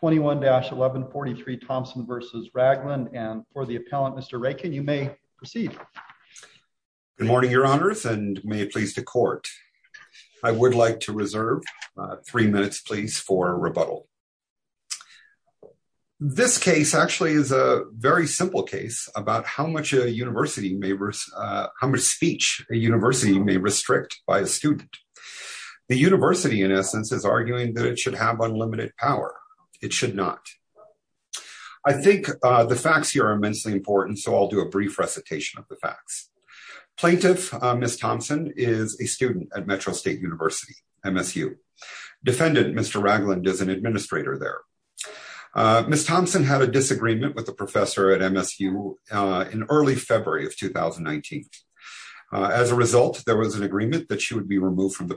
21-1143 Thompson v. Ragland and for the appellant Mr. Raiken you may proceed. Good morning your honors and may it please the court. I would like to reserve three minutes please for rebuttal. This case actually is a very simple case about how much a university may how much speech a university may restrict by a student. The university in essence is arguing that it should have unlimited power. It should not. I think the facts here are immensely important so I'll do a brief recitation of the facts. Plaintiff Miss Thompson is a student at Metro State University MSU. Defendant Mr. Ragland is an administrator there. Miss Thompson had a disagreement with the professor at MSU in early February of 2019. As a result there was an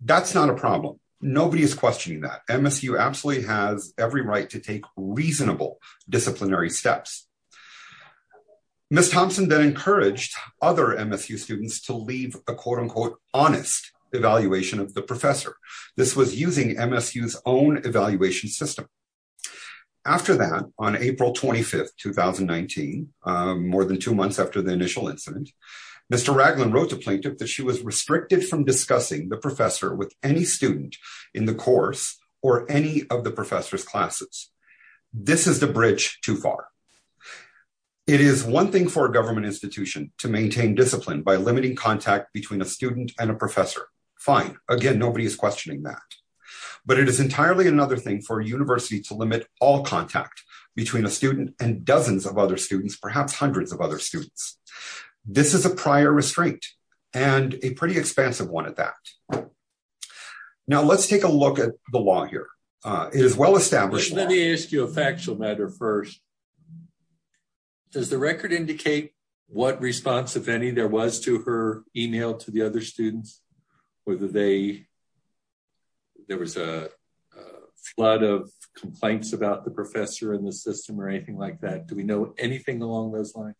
That's not a problem. Nobody is questioning that. MSU absolutely has every right to take reasonable disciplinary steps. Miss Thompson then encouraged other MSU students to leave a quote-unquote honest evaluation of the professor. This was using MSU's own evaluation system. After that on April 25th 2019, more than two months after the initial incident, Mr. Ragland wrote to plaintiff that she was restricted from discussing the professor with any student in the course or any of the professor's classes. This is the bridge too far. It is one thing for a government institution to maintain discipline by limiting contact between a student and a professor. Fine. Again nobody is questioning that. But it is entirely another thing for a university to limit all contact between a student and dozens of other students, perhaps hundreds of other students. This is a prior restraint and a pretty expansive one at that. Now let's take a look at the law here. It is well established. Let me ask you a factual matter first. Does the record indicate what response, if any, there was to her email to the other students? Whether there was a flood of complaints about the professor in the system or anything like that? Do we know anything along those lines?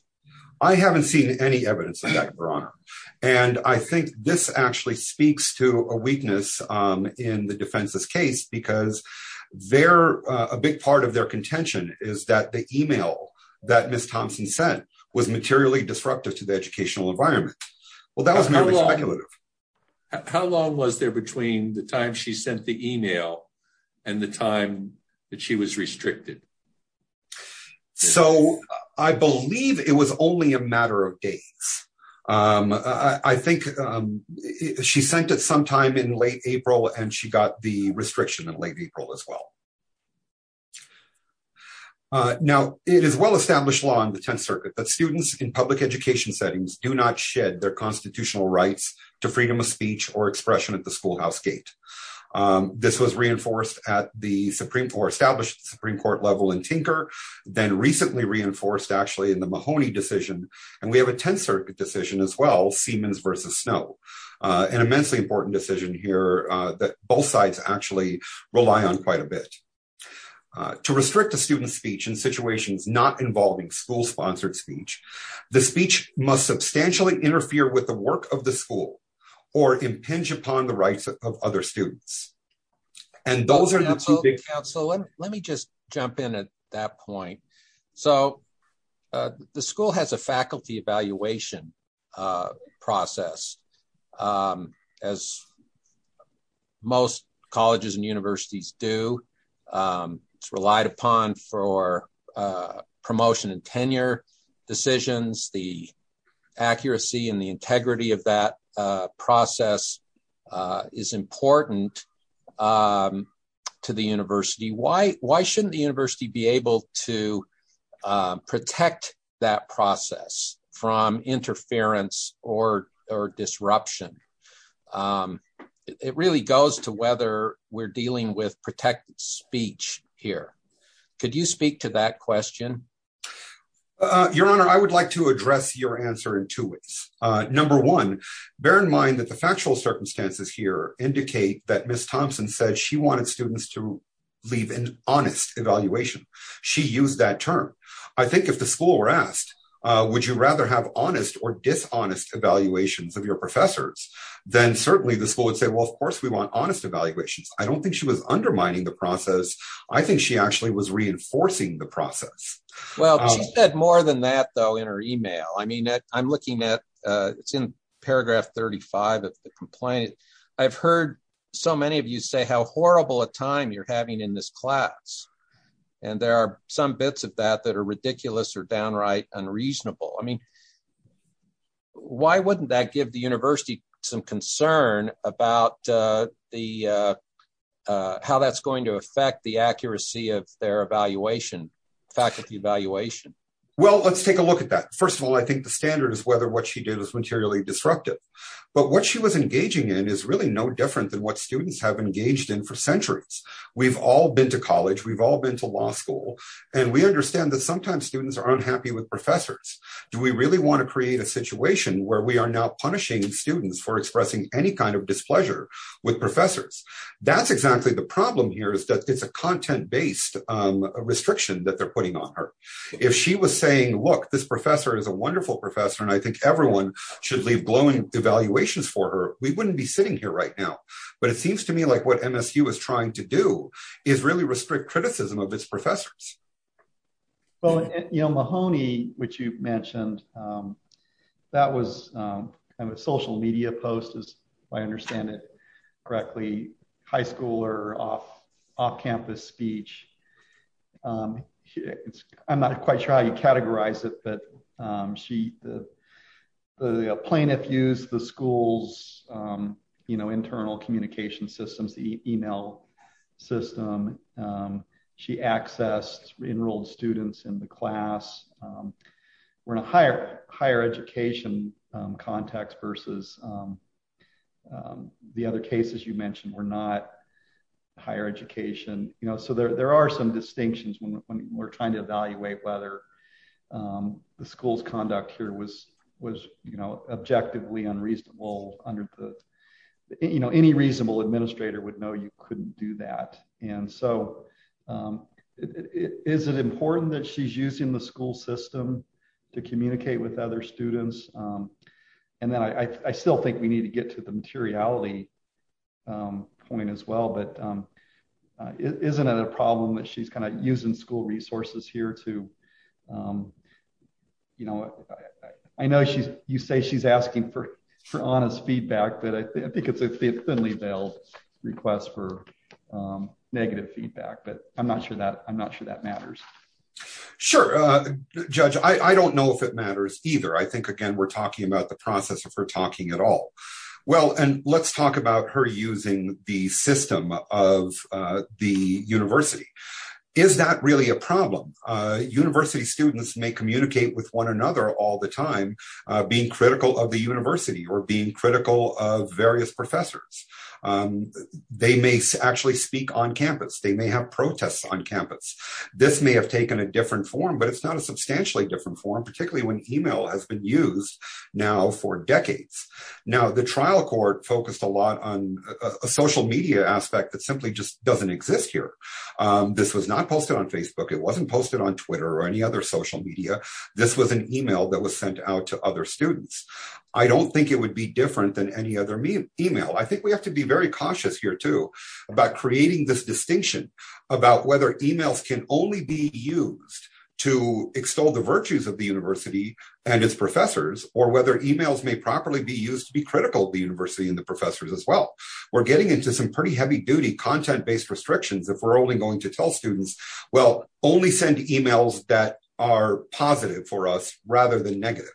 I haven't seen any evidence of that, your honor. And I think this actually speaks to a weakness in the defense's case because a big part of their contention is that the email that Ms. Thompson sent was materially disruptive to the educational environment. Well, that was very speculative. How long was there between the time she sent the email and the time that she was restricted? So, I believe it was only a matter of days. I think she sent it sometime in late April and she got the restriction in late April as well. Now, it is well established law in the 10th Circuit that students in public education settings do not shed their constitutional rights to freedom of speech or expression at the schoolhouse gate. This was reinforced at the established Supreme Court level in Tinker, then recently reinforced actually in the Mahoney decision. And we have a 10th Circuit decision as well, Siemens versus Snow, an immensely important decision here that both sides actually rely on quite a bit. To restrict a student's speech in situations not involving school-sponsored speech, the speech must substantially interfere with the work of the school or impinge upon the rights of other students. And those are the two big... Counsel, let me just jump in at that point. So, the school has a faculty evaluation process as most colleges and universities do. It's relied upon for promotion and tenure decisions, the integrity of that process is important to the university. Why shouldn't the university be able to protect that process from interference or disruption? It really goes to whether we're dealing with protected speech here. Could you speak to that question? Your Honor, I would like to address your answer in two ways. Number one, bear in mind that the factual circumstances here indicate that Ms. Thompson said she wanted students to leave an honest evaluation. She used that term. I think if the school were asked, would you rather have honest or dishonest evaluations of your professors, then certainly the school would say, well, of course we want honest evaluations. I don't think she was undermining the process. I think she actually was reinforcing the process. Well, she said more than that though in her email. I mean, I'm looking at, it's in paragraph 35 of the complaint. I've heard so many of you say how horrible a time you're having in this class. And there are some bits of that that are ridiculous or downright unreasonable. I mean, why wouldn't that give the university some concern about how that's going to affect the accuracy of their evaluation, faculty evaluation? Well, let's take a look at that. First of all, I think the standard is whether what she did was materially disruptive, but what she was engaging in is really no different than what students have engaged in for centuries. We've all been to college, we've all been to law school, and we understand that sometimes students are unhappy with professors. Do we really want to with professors? That's exactly the problem here is that it's a content-based restriction that they're putting on her. If she was saying, look, this professor is a wonderful professor and I think everyone should leave glowing evaluations for her, we wouldn't be sitting here right now. But it seems to me like what MSU is trying to do is really restrict criticism of its professors. Well, Mahoney, which you mentioned, that was kind of a social media post, if I understand it correctly, high school or off-campus speech. I'm not quite sure how you categorize it, but the plaintiff used the school's internal communication systems, the email system. She accessed enrolled students in the class. We're in a higher education context versus the other cases you mentioned were not higher education. So there are some distinctions when we're trying to evaluate whether the school's conduct here was objectively unreasonable. Any reasonable administrator would know you couldn't do that. Is it important that she's using the school system to communicate with the students? I know you say she's asking for honest feedback, but I think it's a thinly veiled request for negative feedback. But I'm not sure that matters. Sure, Judge. I don't know if it matters either. I think, again, we're talking about the process of her talking at all. Well, and let's talk about her using the system of the university. Is that really a problem? University students may communicate with one another all the time, being critical of the university or being critical of various professors. They may actually speak on campus. They may have protests on campus. This may have taken a different form, but it's not a substantially different form, particularly when email has been used now for decades. Now, the trial court focused a lot on a social media aspect that simply just doesn't exist here. This was not posted on Facebook. It wasn't posted on Twitter or any other social media. This was an email that was sent out to other students. I don't think it would be different than any other email. I think we have to be very cautious here, too, about creating this distinction about whether emails can only be used to extol the virtues of the university and its professors or whether emails may properly be used to be critical of the university and the professors as well. We're getting into some pretty heavy-duty content-based restrictions if we're only going to tell students, well, only send emails that are positive for us rather than negative.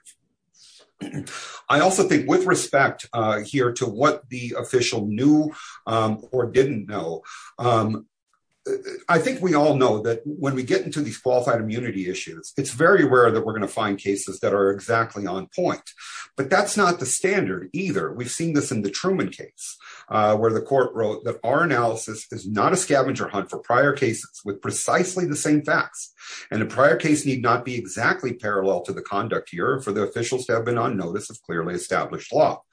I also think with respect here to what the official knew or didn't know, I think we all know that when we get into these qualified immunity issues, it's very rare that we're going to find cases that are exactly on point, but that's not the standard either. We've seen this in the Truman case where the court wrote that our analysis is not a scavenger hunt for prior cases with precisely the same facts, and the prior case need not be exactly parallel to the conduct here for the officials to have on notice of clearly established law.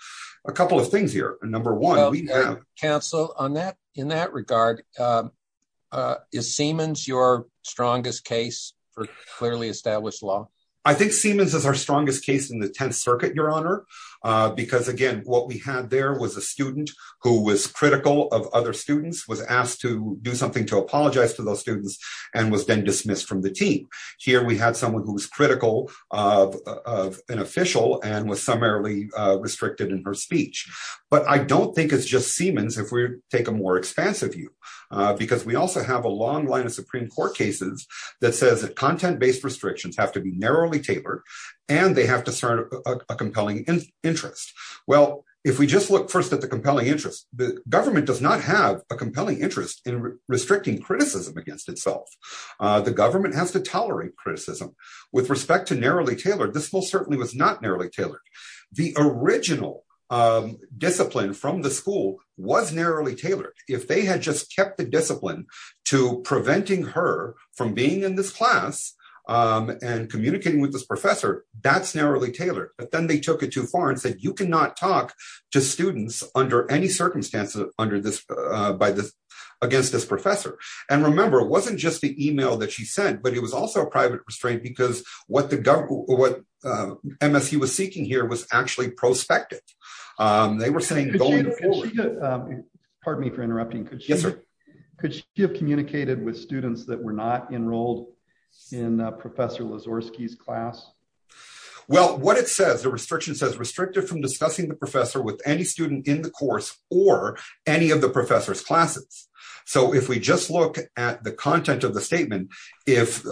A couple of things here. Number one, we have- Counsel, in that regard, is Seamans your strongest case for clearly established law? I think Seamans is our strongest case in the Tenth Circuit, Your Honor, because, again, what we had there was a student who was critical of other students, was asked to do something to apologize to those students, and was then dismissed from the team. Here, we had someone who was official and was summarily restricted in her speech, but I don't think it's just Seamans if we take a more expansive view, because we also have a long line of Supreme Court cases that says that content-based restrictions have to be narrowly tailored, and they have to serve a compelling interest. Well, if we just look first at the compelling interest, the government does not have a compelling interest in restricting criticism against itself. The government has to tolerate criticism. With respect to narrowly tailored, this most certainly was not narrowly tailored. The original discipline from the school was narrowly tailored. If they had just kept the discipline to preventing her from being in this class and communicating with this professor, that's narrowly tailored. But then they took it too far and said, you cannot talk to students under any circumstances against this professor. And remember, it wasn't just the email that she sent, but it was also a private restraint, because what MSU was seeking here was actually prospective. They were saying going forward... Pardon me for interrupting. Could she have communicated with students that were not enrolled in Professor Lazorski's class? Well, what it says, the restriction says, restricted from discussing the professor with any student in the course or any of the professor's content of the statement. If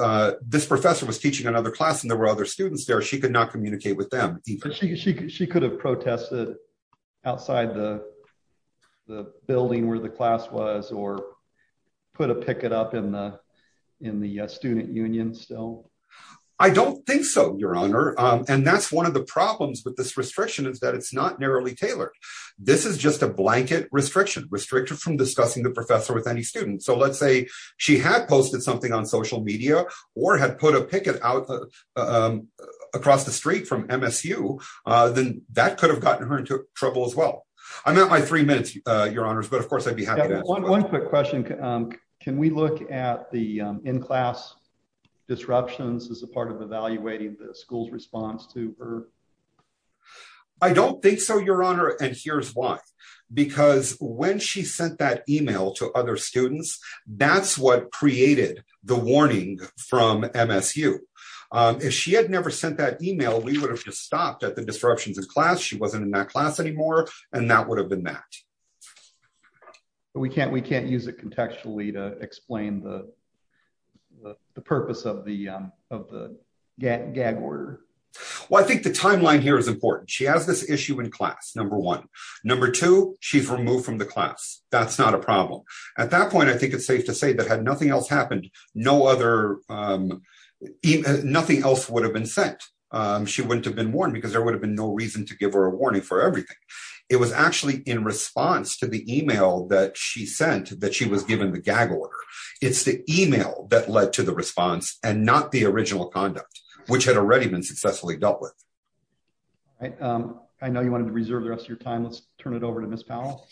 this professor was teaching another class and there were other students there, she could not communicate with them. She could have protested outside the building where the class was or put a picket up in the student union still? I don't think so, Your Honor. And that's one of the problems with this restriction is that it's not narrowly tailored. This is just a blanket restriction, restricted from discussing the she had posted something on social media or had put a picket out across the street from MSU, then that could have gotten her into trouble as well. I'm at my three minutes, Your Honors, but of course, I'd be happy to... One quick question. Can we look at the in-class disruptions as a part of evaluating the school's response to her? I don't think so, Your Honor. And here's why. Because when she sent that email to other students, that's what created the warning from MSU. If she had never sent that email, we would have just stopped at the disruptions in class. She wasn't in that class anymore, and that would have been that. But we can't use it contextually to explain the purpose of the gag order. Well, I think the timeline here is important. She has this issue in class, number one. Number two, she's removed from the class. That's not a problem. At that point, I think it's safe to say that had nothing else happened, nothing else would have been sent. She wouldn't have been warned because there would have been no reason to give her a warning for everything. It was actually in response to the email that she sent that she was given the gag order. It's the email that led to the response and not the original conduct, which had already been successfully dealt with. I know you wanted to reserve the rest of your time. Let's turn it over to Ms. Powell.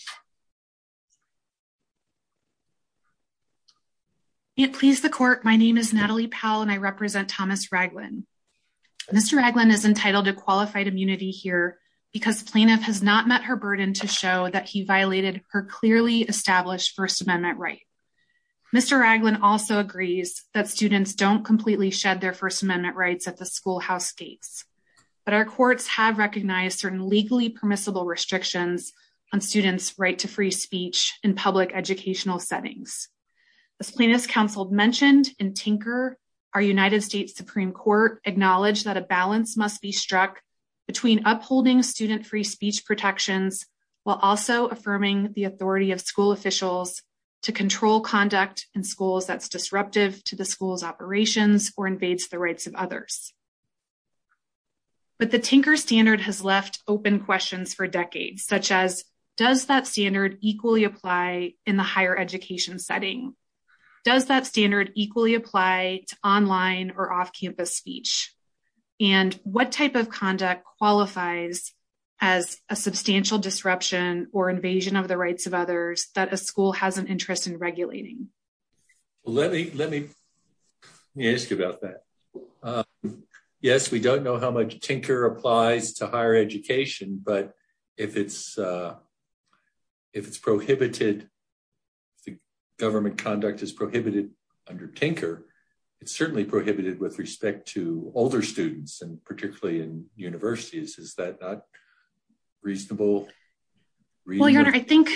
May it please the court, my name is Natalie Powell and I represent Thomas Raglin. Mr. Raglin is entitled to qualified immunity here because plaintiff has not met her burden to show that he violated her clearly established First Amendment right. Mr. Raglin also agrees that students don't completely shed their First Amendment rights at the schoolhouse gates, but our courts have recognized certain legally permissible restrictions on students' right to free speech in public educational settings. As plaintiff's counsel mentioned in Tinker, our United States Supreme Court acknowledged that a balance must be struck between upholding student free speech protections while also affirming the authority of school officials to control conduct in schools that's disruptive to the school's operations or invades the rights of others. But the Tinker standard has left open questions for decades, such as does that standard equally apply in the higher education setting? Does that standard equally apply to online or off-campus speech? And what type of conduct qualifies as a substantial disruption or invasion of the rights of others that a school has an interest in regulating? Let me let me ask you about that. Yes, we don't know how much Tinker applies to higher education, but if it's if it's prohibited, the government conduct is prohibited under Tinker, it's certainly prohibited with respect to older students and particularly in universities. Is that not reasonable? Well, your honor, I think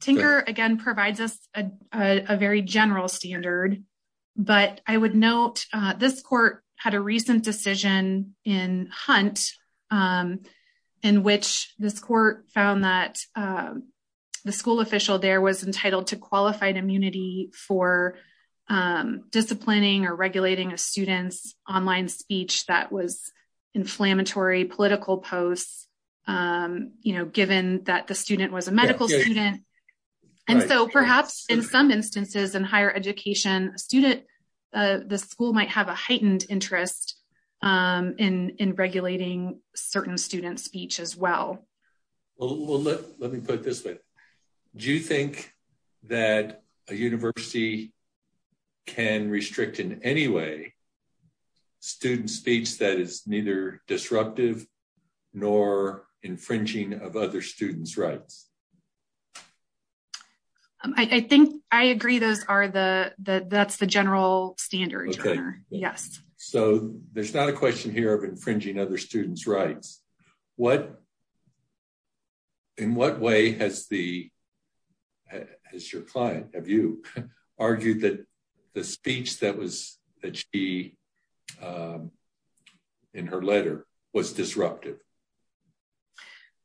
Tinker again provides us a very general standard, but I would note this court had a recent decision in Hunt in which this court found that the school official there was entitled to qualified immunity for disciplining or regulating a online speech that was inflammatory political posts, you know, given that the student was a medical student. And so perhaps in some instances in higher education, the school might have a heightened interest in regulating certain student speech as well. Well, let me put it this way. Do you think that a university can restrict in any way student speech that is neither disruptive nor infringing of other students rights? I think I agree. Those are the that's the general standard. Yes. So there's not a question here of infringing other students rights. What in what way has the has your client have you argued that the speech that was that she in her letter was disruptive?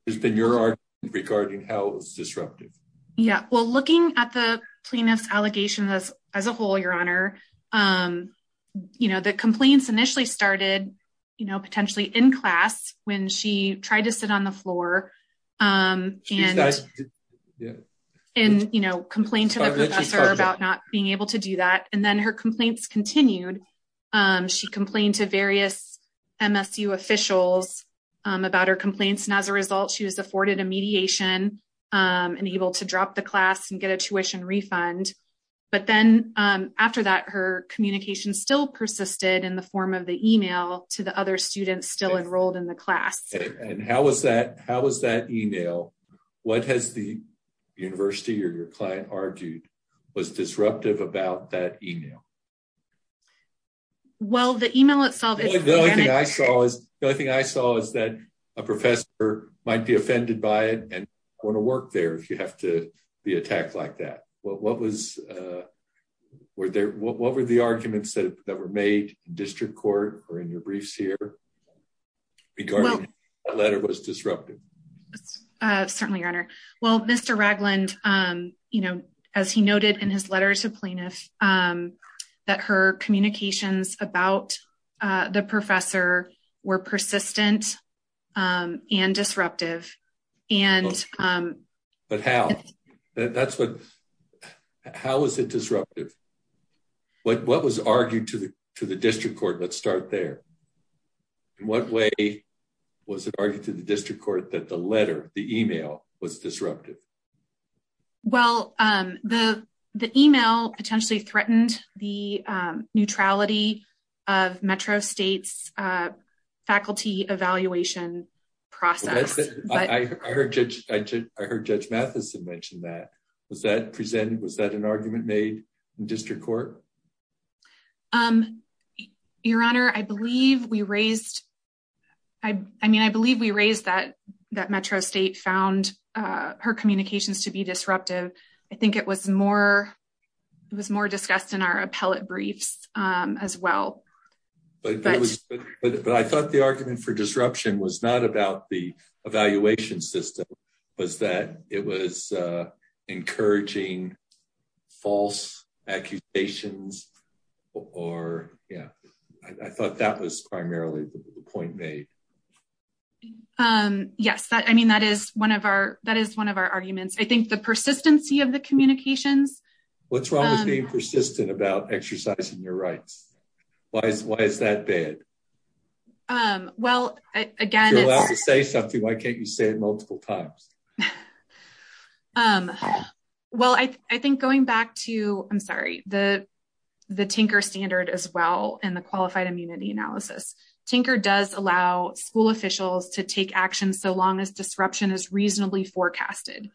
There's been your art regarding how it was disruptive. Yeah, well, looking at the plaintiff's allegation as as a whole, your honor, you know, the complaints initially started, you know, potentially in class when she tried to sit on the floor and, you know, complained to the professor about not being able to do that. And then her complaints continued. She complained to various MSU officials about her complaints. And as a result, she was afforded a mediation and able to drop the class and get a tuition refund. But then after that, her communication still persisted in the form of the email to the other students still enrolled in the class. And how was that? How was that email? What has the university or your client argued was disruptive about that email? Well, the email itself is the only thing I saw is the only thing I saw is that a professor might be offended by it and want to work there if you have to be attacked like that. What was a were there? What were the arguments that were made district court or in your briefs here? Because the letter was disrupted? Certainly, your honor. Well, Mr. Ragland, you know, as he noted in his letters of plaintiffs, that her communications about the professor were persistent and disruptive. And but how that's what how is it disruptive? What what was argued to the to the district court? Let's start there. In what way was it argued to the district court that the letter the email was disrupted? Well, the the email potentially threatened the neutrality of Metro State's faculty evaluation process. I heard I heard Judge Matheson mentioned that. Was that presented? Was that an argument made in district court? Your honor, I believe we raised. I mean, I believe we raised that that Metro State found her communications to be disruptive. I think it was more. It was more discussed in our appellate briefs as well. But I thought the argument for disruption was not about the evaluation system was that it was encouraging false accusations or yeah, I thought that was that. I mean, that is one of our that is one of our arguments. I think the persistency of the communications. What's wrong with being persistent about exercising your rights? Why is why is that bad? Well, again, say something. Why can't you say it multiple times? Well, I think going back to I'm sorry, the the Tinker standard as well in the qualified analysis, Tinker does allow school officials to take action so long as disruption is reasonably forecasted.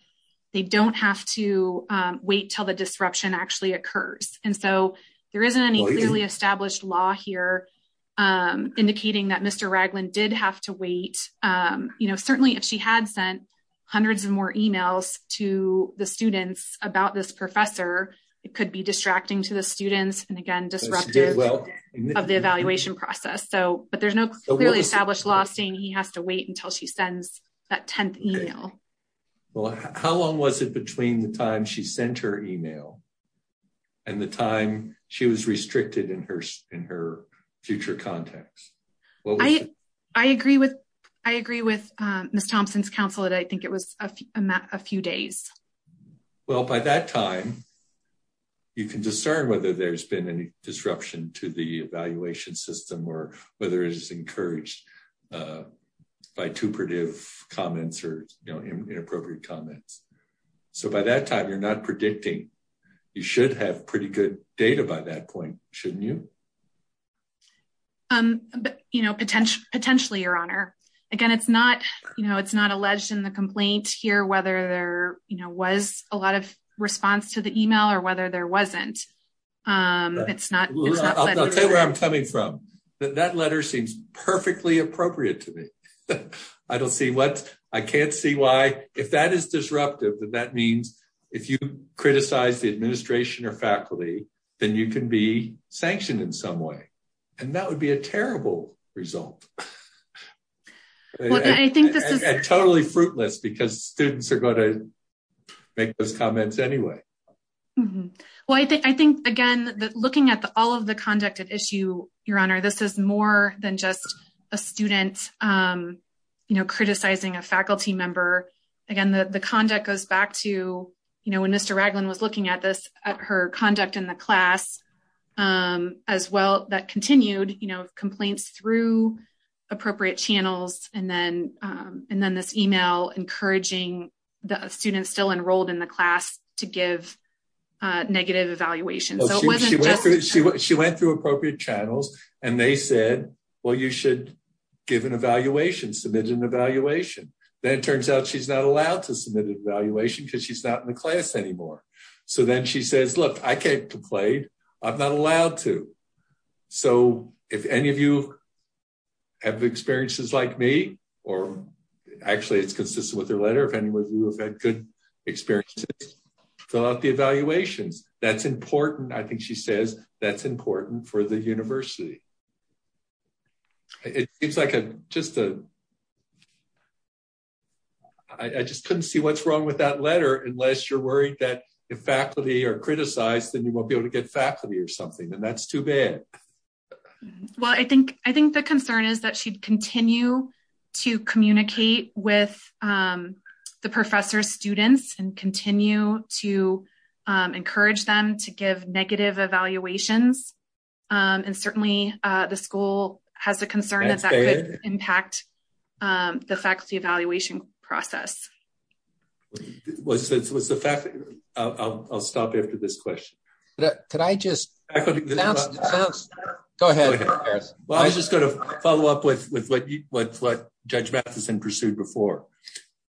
They don't have to wait till the disruption actually occurs. And so there isn't any clearly established law here indicating that Mr. Ragland did have to wait. You know, certainly if she had sent hundreds of more emails to the students about this professor, it could be distracting to the students and again, disruptive of the evaluation process. So but there's no clearly established law saying he has to wait until she sends that 10th email. Well, how long was it between the time she sent her email and the time she was restricted in her in her future context? I agree with I agree with Miss Thompson's counsel that I think it was a few days. Well, by that time, you can discern whether there's been any disruption to the evaluation system or whether it is encouraged by two pretty comments or inappropriate comments. So by that time, you're not predicting you should have pretty good data by that point, shouldn't you? Um, you know, potentially, potentially, Your Honor. Again, it's not, you know, it's not in the complaint here, whether there was a lot of response to the email or whether there wasn't. It's not where I'm coming from, that letter seems perfectly appropriate to me. I don't see what I can't see why if that is disruptive, that that means if you criticize the administration or faculty, then you can be sanctioned in some way. And that would be a terrible result. But I think this is totally fruitless, because students are going to make those comments anyway. Well, I think I think, again, that looking at all of the conduct of issue, Your Honor, this is more than just a student, you know, criticizing a faculty member. Again, the conduct goes back to, you know, when Mr. Raglan was looking at this, at her conduct in the class, as well, that continued, you know, complaints through appropriate channels, and then, and then this email encouraging the students still enrolled in the class to give negative evaluation. She went through appropriate channels, and they said, well, you should give an evaluation, submit an evaluation. Then it turns out she's not allowed to submit an evaluation because she's not in the class anymore. So then she says, look, I can't So if any of you have experiences like me, or actually, it's consistent with her letter. If any of you have had good experiences, fill out the evaluations. That's important. I think she says that's important for the university. It seems like a just a I just couldn't see what's wrong with that letter, unless you're worried that if faculty are criticized, then you won't be able to get faculty or something. And that's too bad. Well, I think, I think the concern is that she'd continue to communicate with the professor's students and continue to encourage them to give negative evaluations. And certainly, the school has a concern that impact the faculty evaluation process. Was it was the fact that I'll stop after this question that could I just go ahead. Well, I was just going to follow up with with what you what what Judge Matheson pursued before.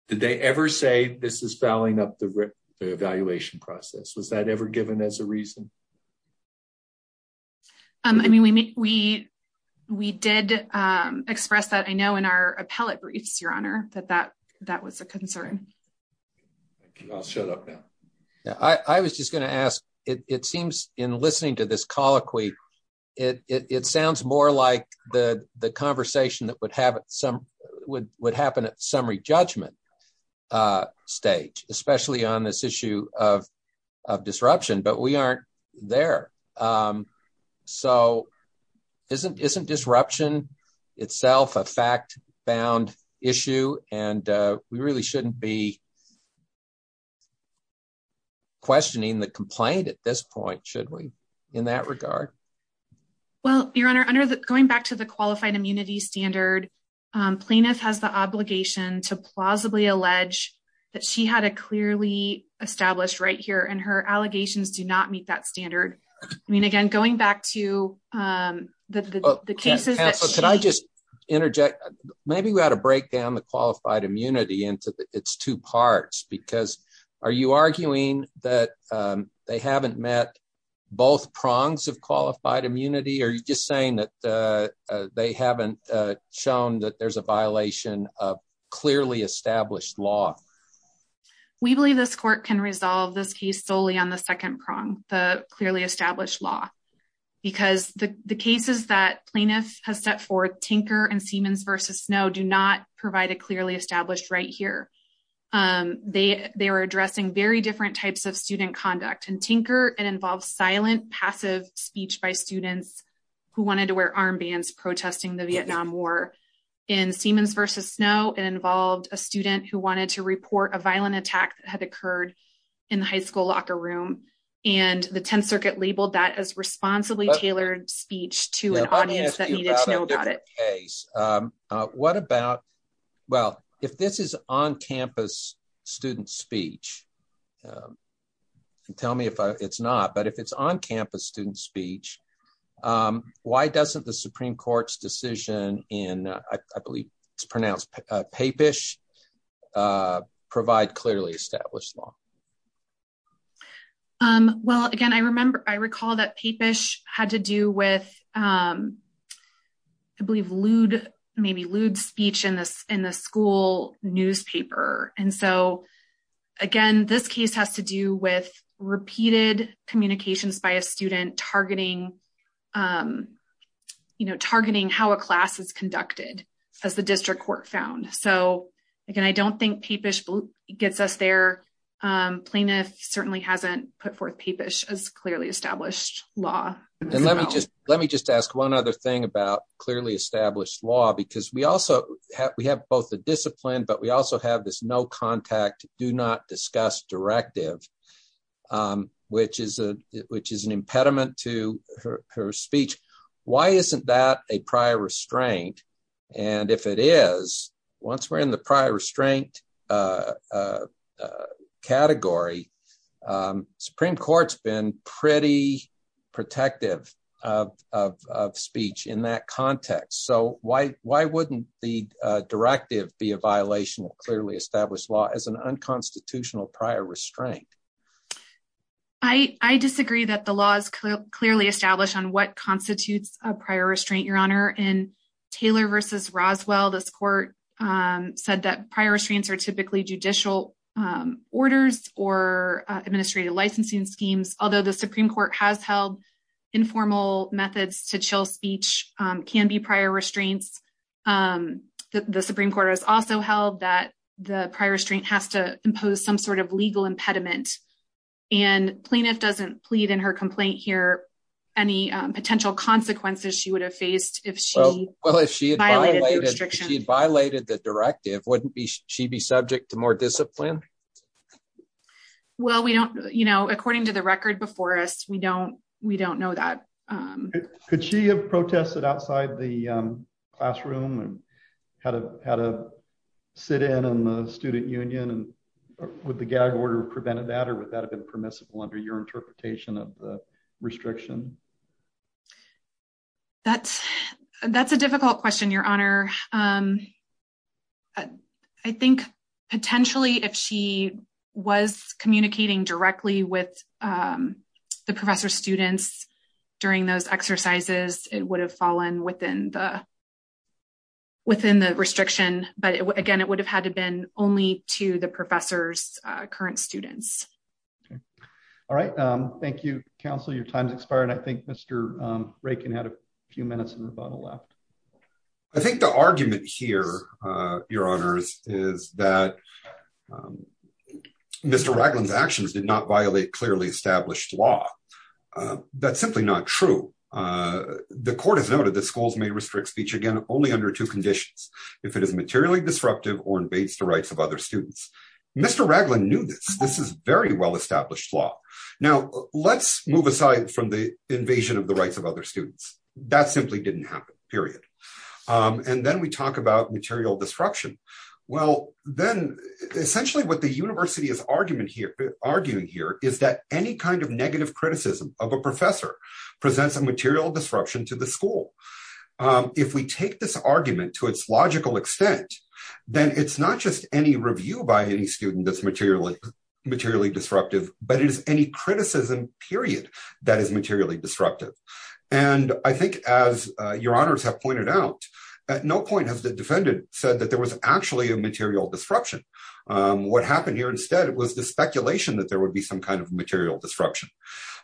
Did they ever say this is fouling up the evaluation process? Was that ever given as a reason? I mean, we we we did express that I know in our appellate briefs, Your Honor, that that that was a concern. I'll shut up now. I was just going to ask, it seems in listening to this colloquy. It sounds more like the the conversation that would have some would would happen at summary judgment stage, especially on this issue of of disruption, but we aren't there. So isn't isn't disruption itself a fact bound issue? And we really shouldn't be questioning the complaint at this point, should we in that regard? Well, Your Honor, under the going back to the qualified immunity standard, plaintiff has the obligation to plausibly allege that she had a clearly established right here and her allegations do not meet that standard. I mean, again, going back to the cases that I just interject, maybe we ought to break down the qualified immunity into its two parts, because are you arguing that they haven't met both prongs of qualified immunity? Are you just saying that they haven't shown that there's a violation of clearly established law? We believe this court can resolve this case solely on the second prong, the clearly established law, because the cases that plaintiff has set forth, Tinker and Siemens versus Snow, do not provide a clearly established right here. They they were addressing very different types of student conduct and Tinker. It involves silent, passive speech by students who wanted to wear armbands protesting the violent attack that had occurred in the high school locker room. And the 10th Circuit labeled that as responsibly tailored speech to an audience that needed to know about it. What about, well, if this is on campus student speech, tell me if it's not, but if it's on campus student speech, why doesn't the Supreme Court's decision in, I believe it's pronounced Papish, provide clearly established law? Well, again, I remember, I recall that Papish had to do with, I believe, lewd, maybe lewd speech in the school newspaper. And so, again, this case has to do with repeated communications by a student targeting, you know, targeting how a class is conducted, as the district court found. So, again, I don't think gets us there. Plaintiff certainly hasn't put forth Papish as clearly established law. And let me just, let me just ask one other thing about clearly established law, because we also have, we have both the discipline, but we also have this no contact, do not discuss directive, which is an impediment to her speech. Why isn't that a prior restraint? And if it is, once we're in the prior restraint category, Supreme Court's been pretty protective of speech in that context. So, why wouldn't the directive be a violation of clearly established law as an unconstitutional prior restraint? I disagree that the law is clearly established on what constitutes a prior restraint, Your Honor. In Taylor v. Roswell, this court said that prior restraints are typically judicial orders or administrative licensing schemes, although the Supreme Court has held informal methods to chill speech can be prior restraints. The Supreme Court has also held that the prior restraint has to impose some sort of legal impediment. And plaintiff doesn't plead in she would have faced if she violated the directive, wouldn't she be subject to more discipline? Well, we don't, you know, according to the record before us, we don't, we don't know that. Could she have protested outside the classroom and had a, had a sit in on the student union and with the gag order prevented that, or would that have been permissible under your That's, that's a difficult question, Your Honor. I think potentially if she was communicating directly with the professor students during those exercises, it would have fallen within the within the restriction. But again, it would have had to been only to the professor's current Okay. All right. Thank you, counsel. Your time's expired. I think Mr. Reagan had a few minutes in the bottle left. I think the argument here your honors is that Mr. Ragland's actions did not violate clearly established law. That's simply not true. The court has noted that schools may restrict speech again, only under two conditions. If it is materially disruptive or invades the rights of other students, Mr. Ragland knew this. This is very well established law. Now let's move aside from the invasion of the rights of other students that simply didn't happen period. And then we talk about material destruction. Well, then essentially what the university is argument here arguing here is that any kind of negative criticism of a professor presents a material disruption to the school. If we take this argument to its logical extent, then it's not just any review by any student that's materially disruptive, but it is any criticism period that is materially disruptive. And I think as your honors have pointed out, at no point has the defendant said that there was actually a material disruption. What happened here instead was the speculation that there would be some kind of material disruption.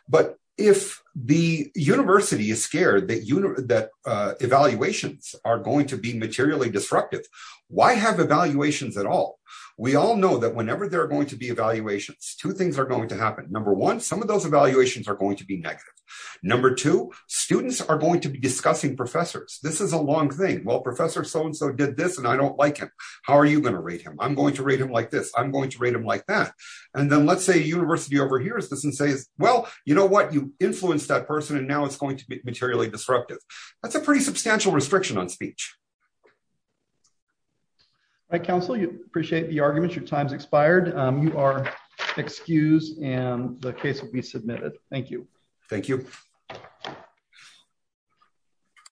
But if the university is scared that evaluations are going to be materially disruptive, why have evaluations at all? We all know that whenever there are going to be evaluations, two things are going to happen. Number one, some of those evaluations are going to be negative. Number two, students are going to be discussing professors. This is a long thing. Well, professor so-and-so did this and I don't like him. How are you going to rate him? I'm going to rate him like this. I'm going to rate him like that. And then let's say university overhears this and says, well, you know what? You influenced that person and now it's going to be materially disruptive. That's a pretty substantial restriction on speech. All right, counsel, you appreciate the arguments. Your time's expired. You are excused and the case will be submitted. Thank you. Thank you.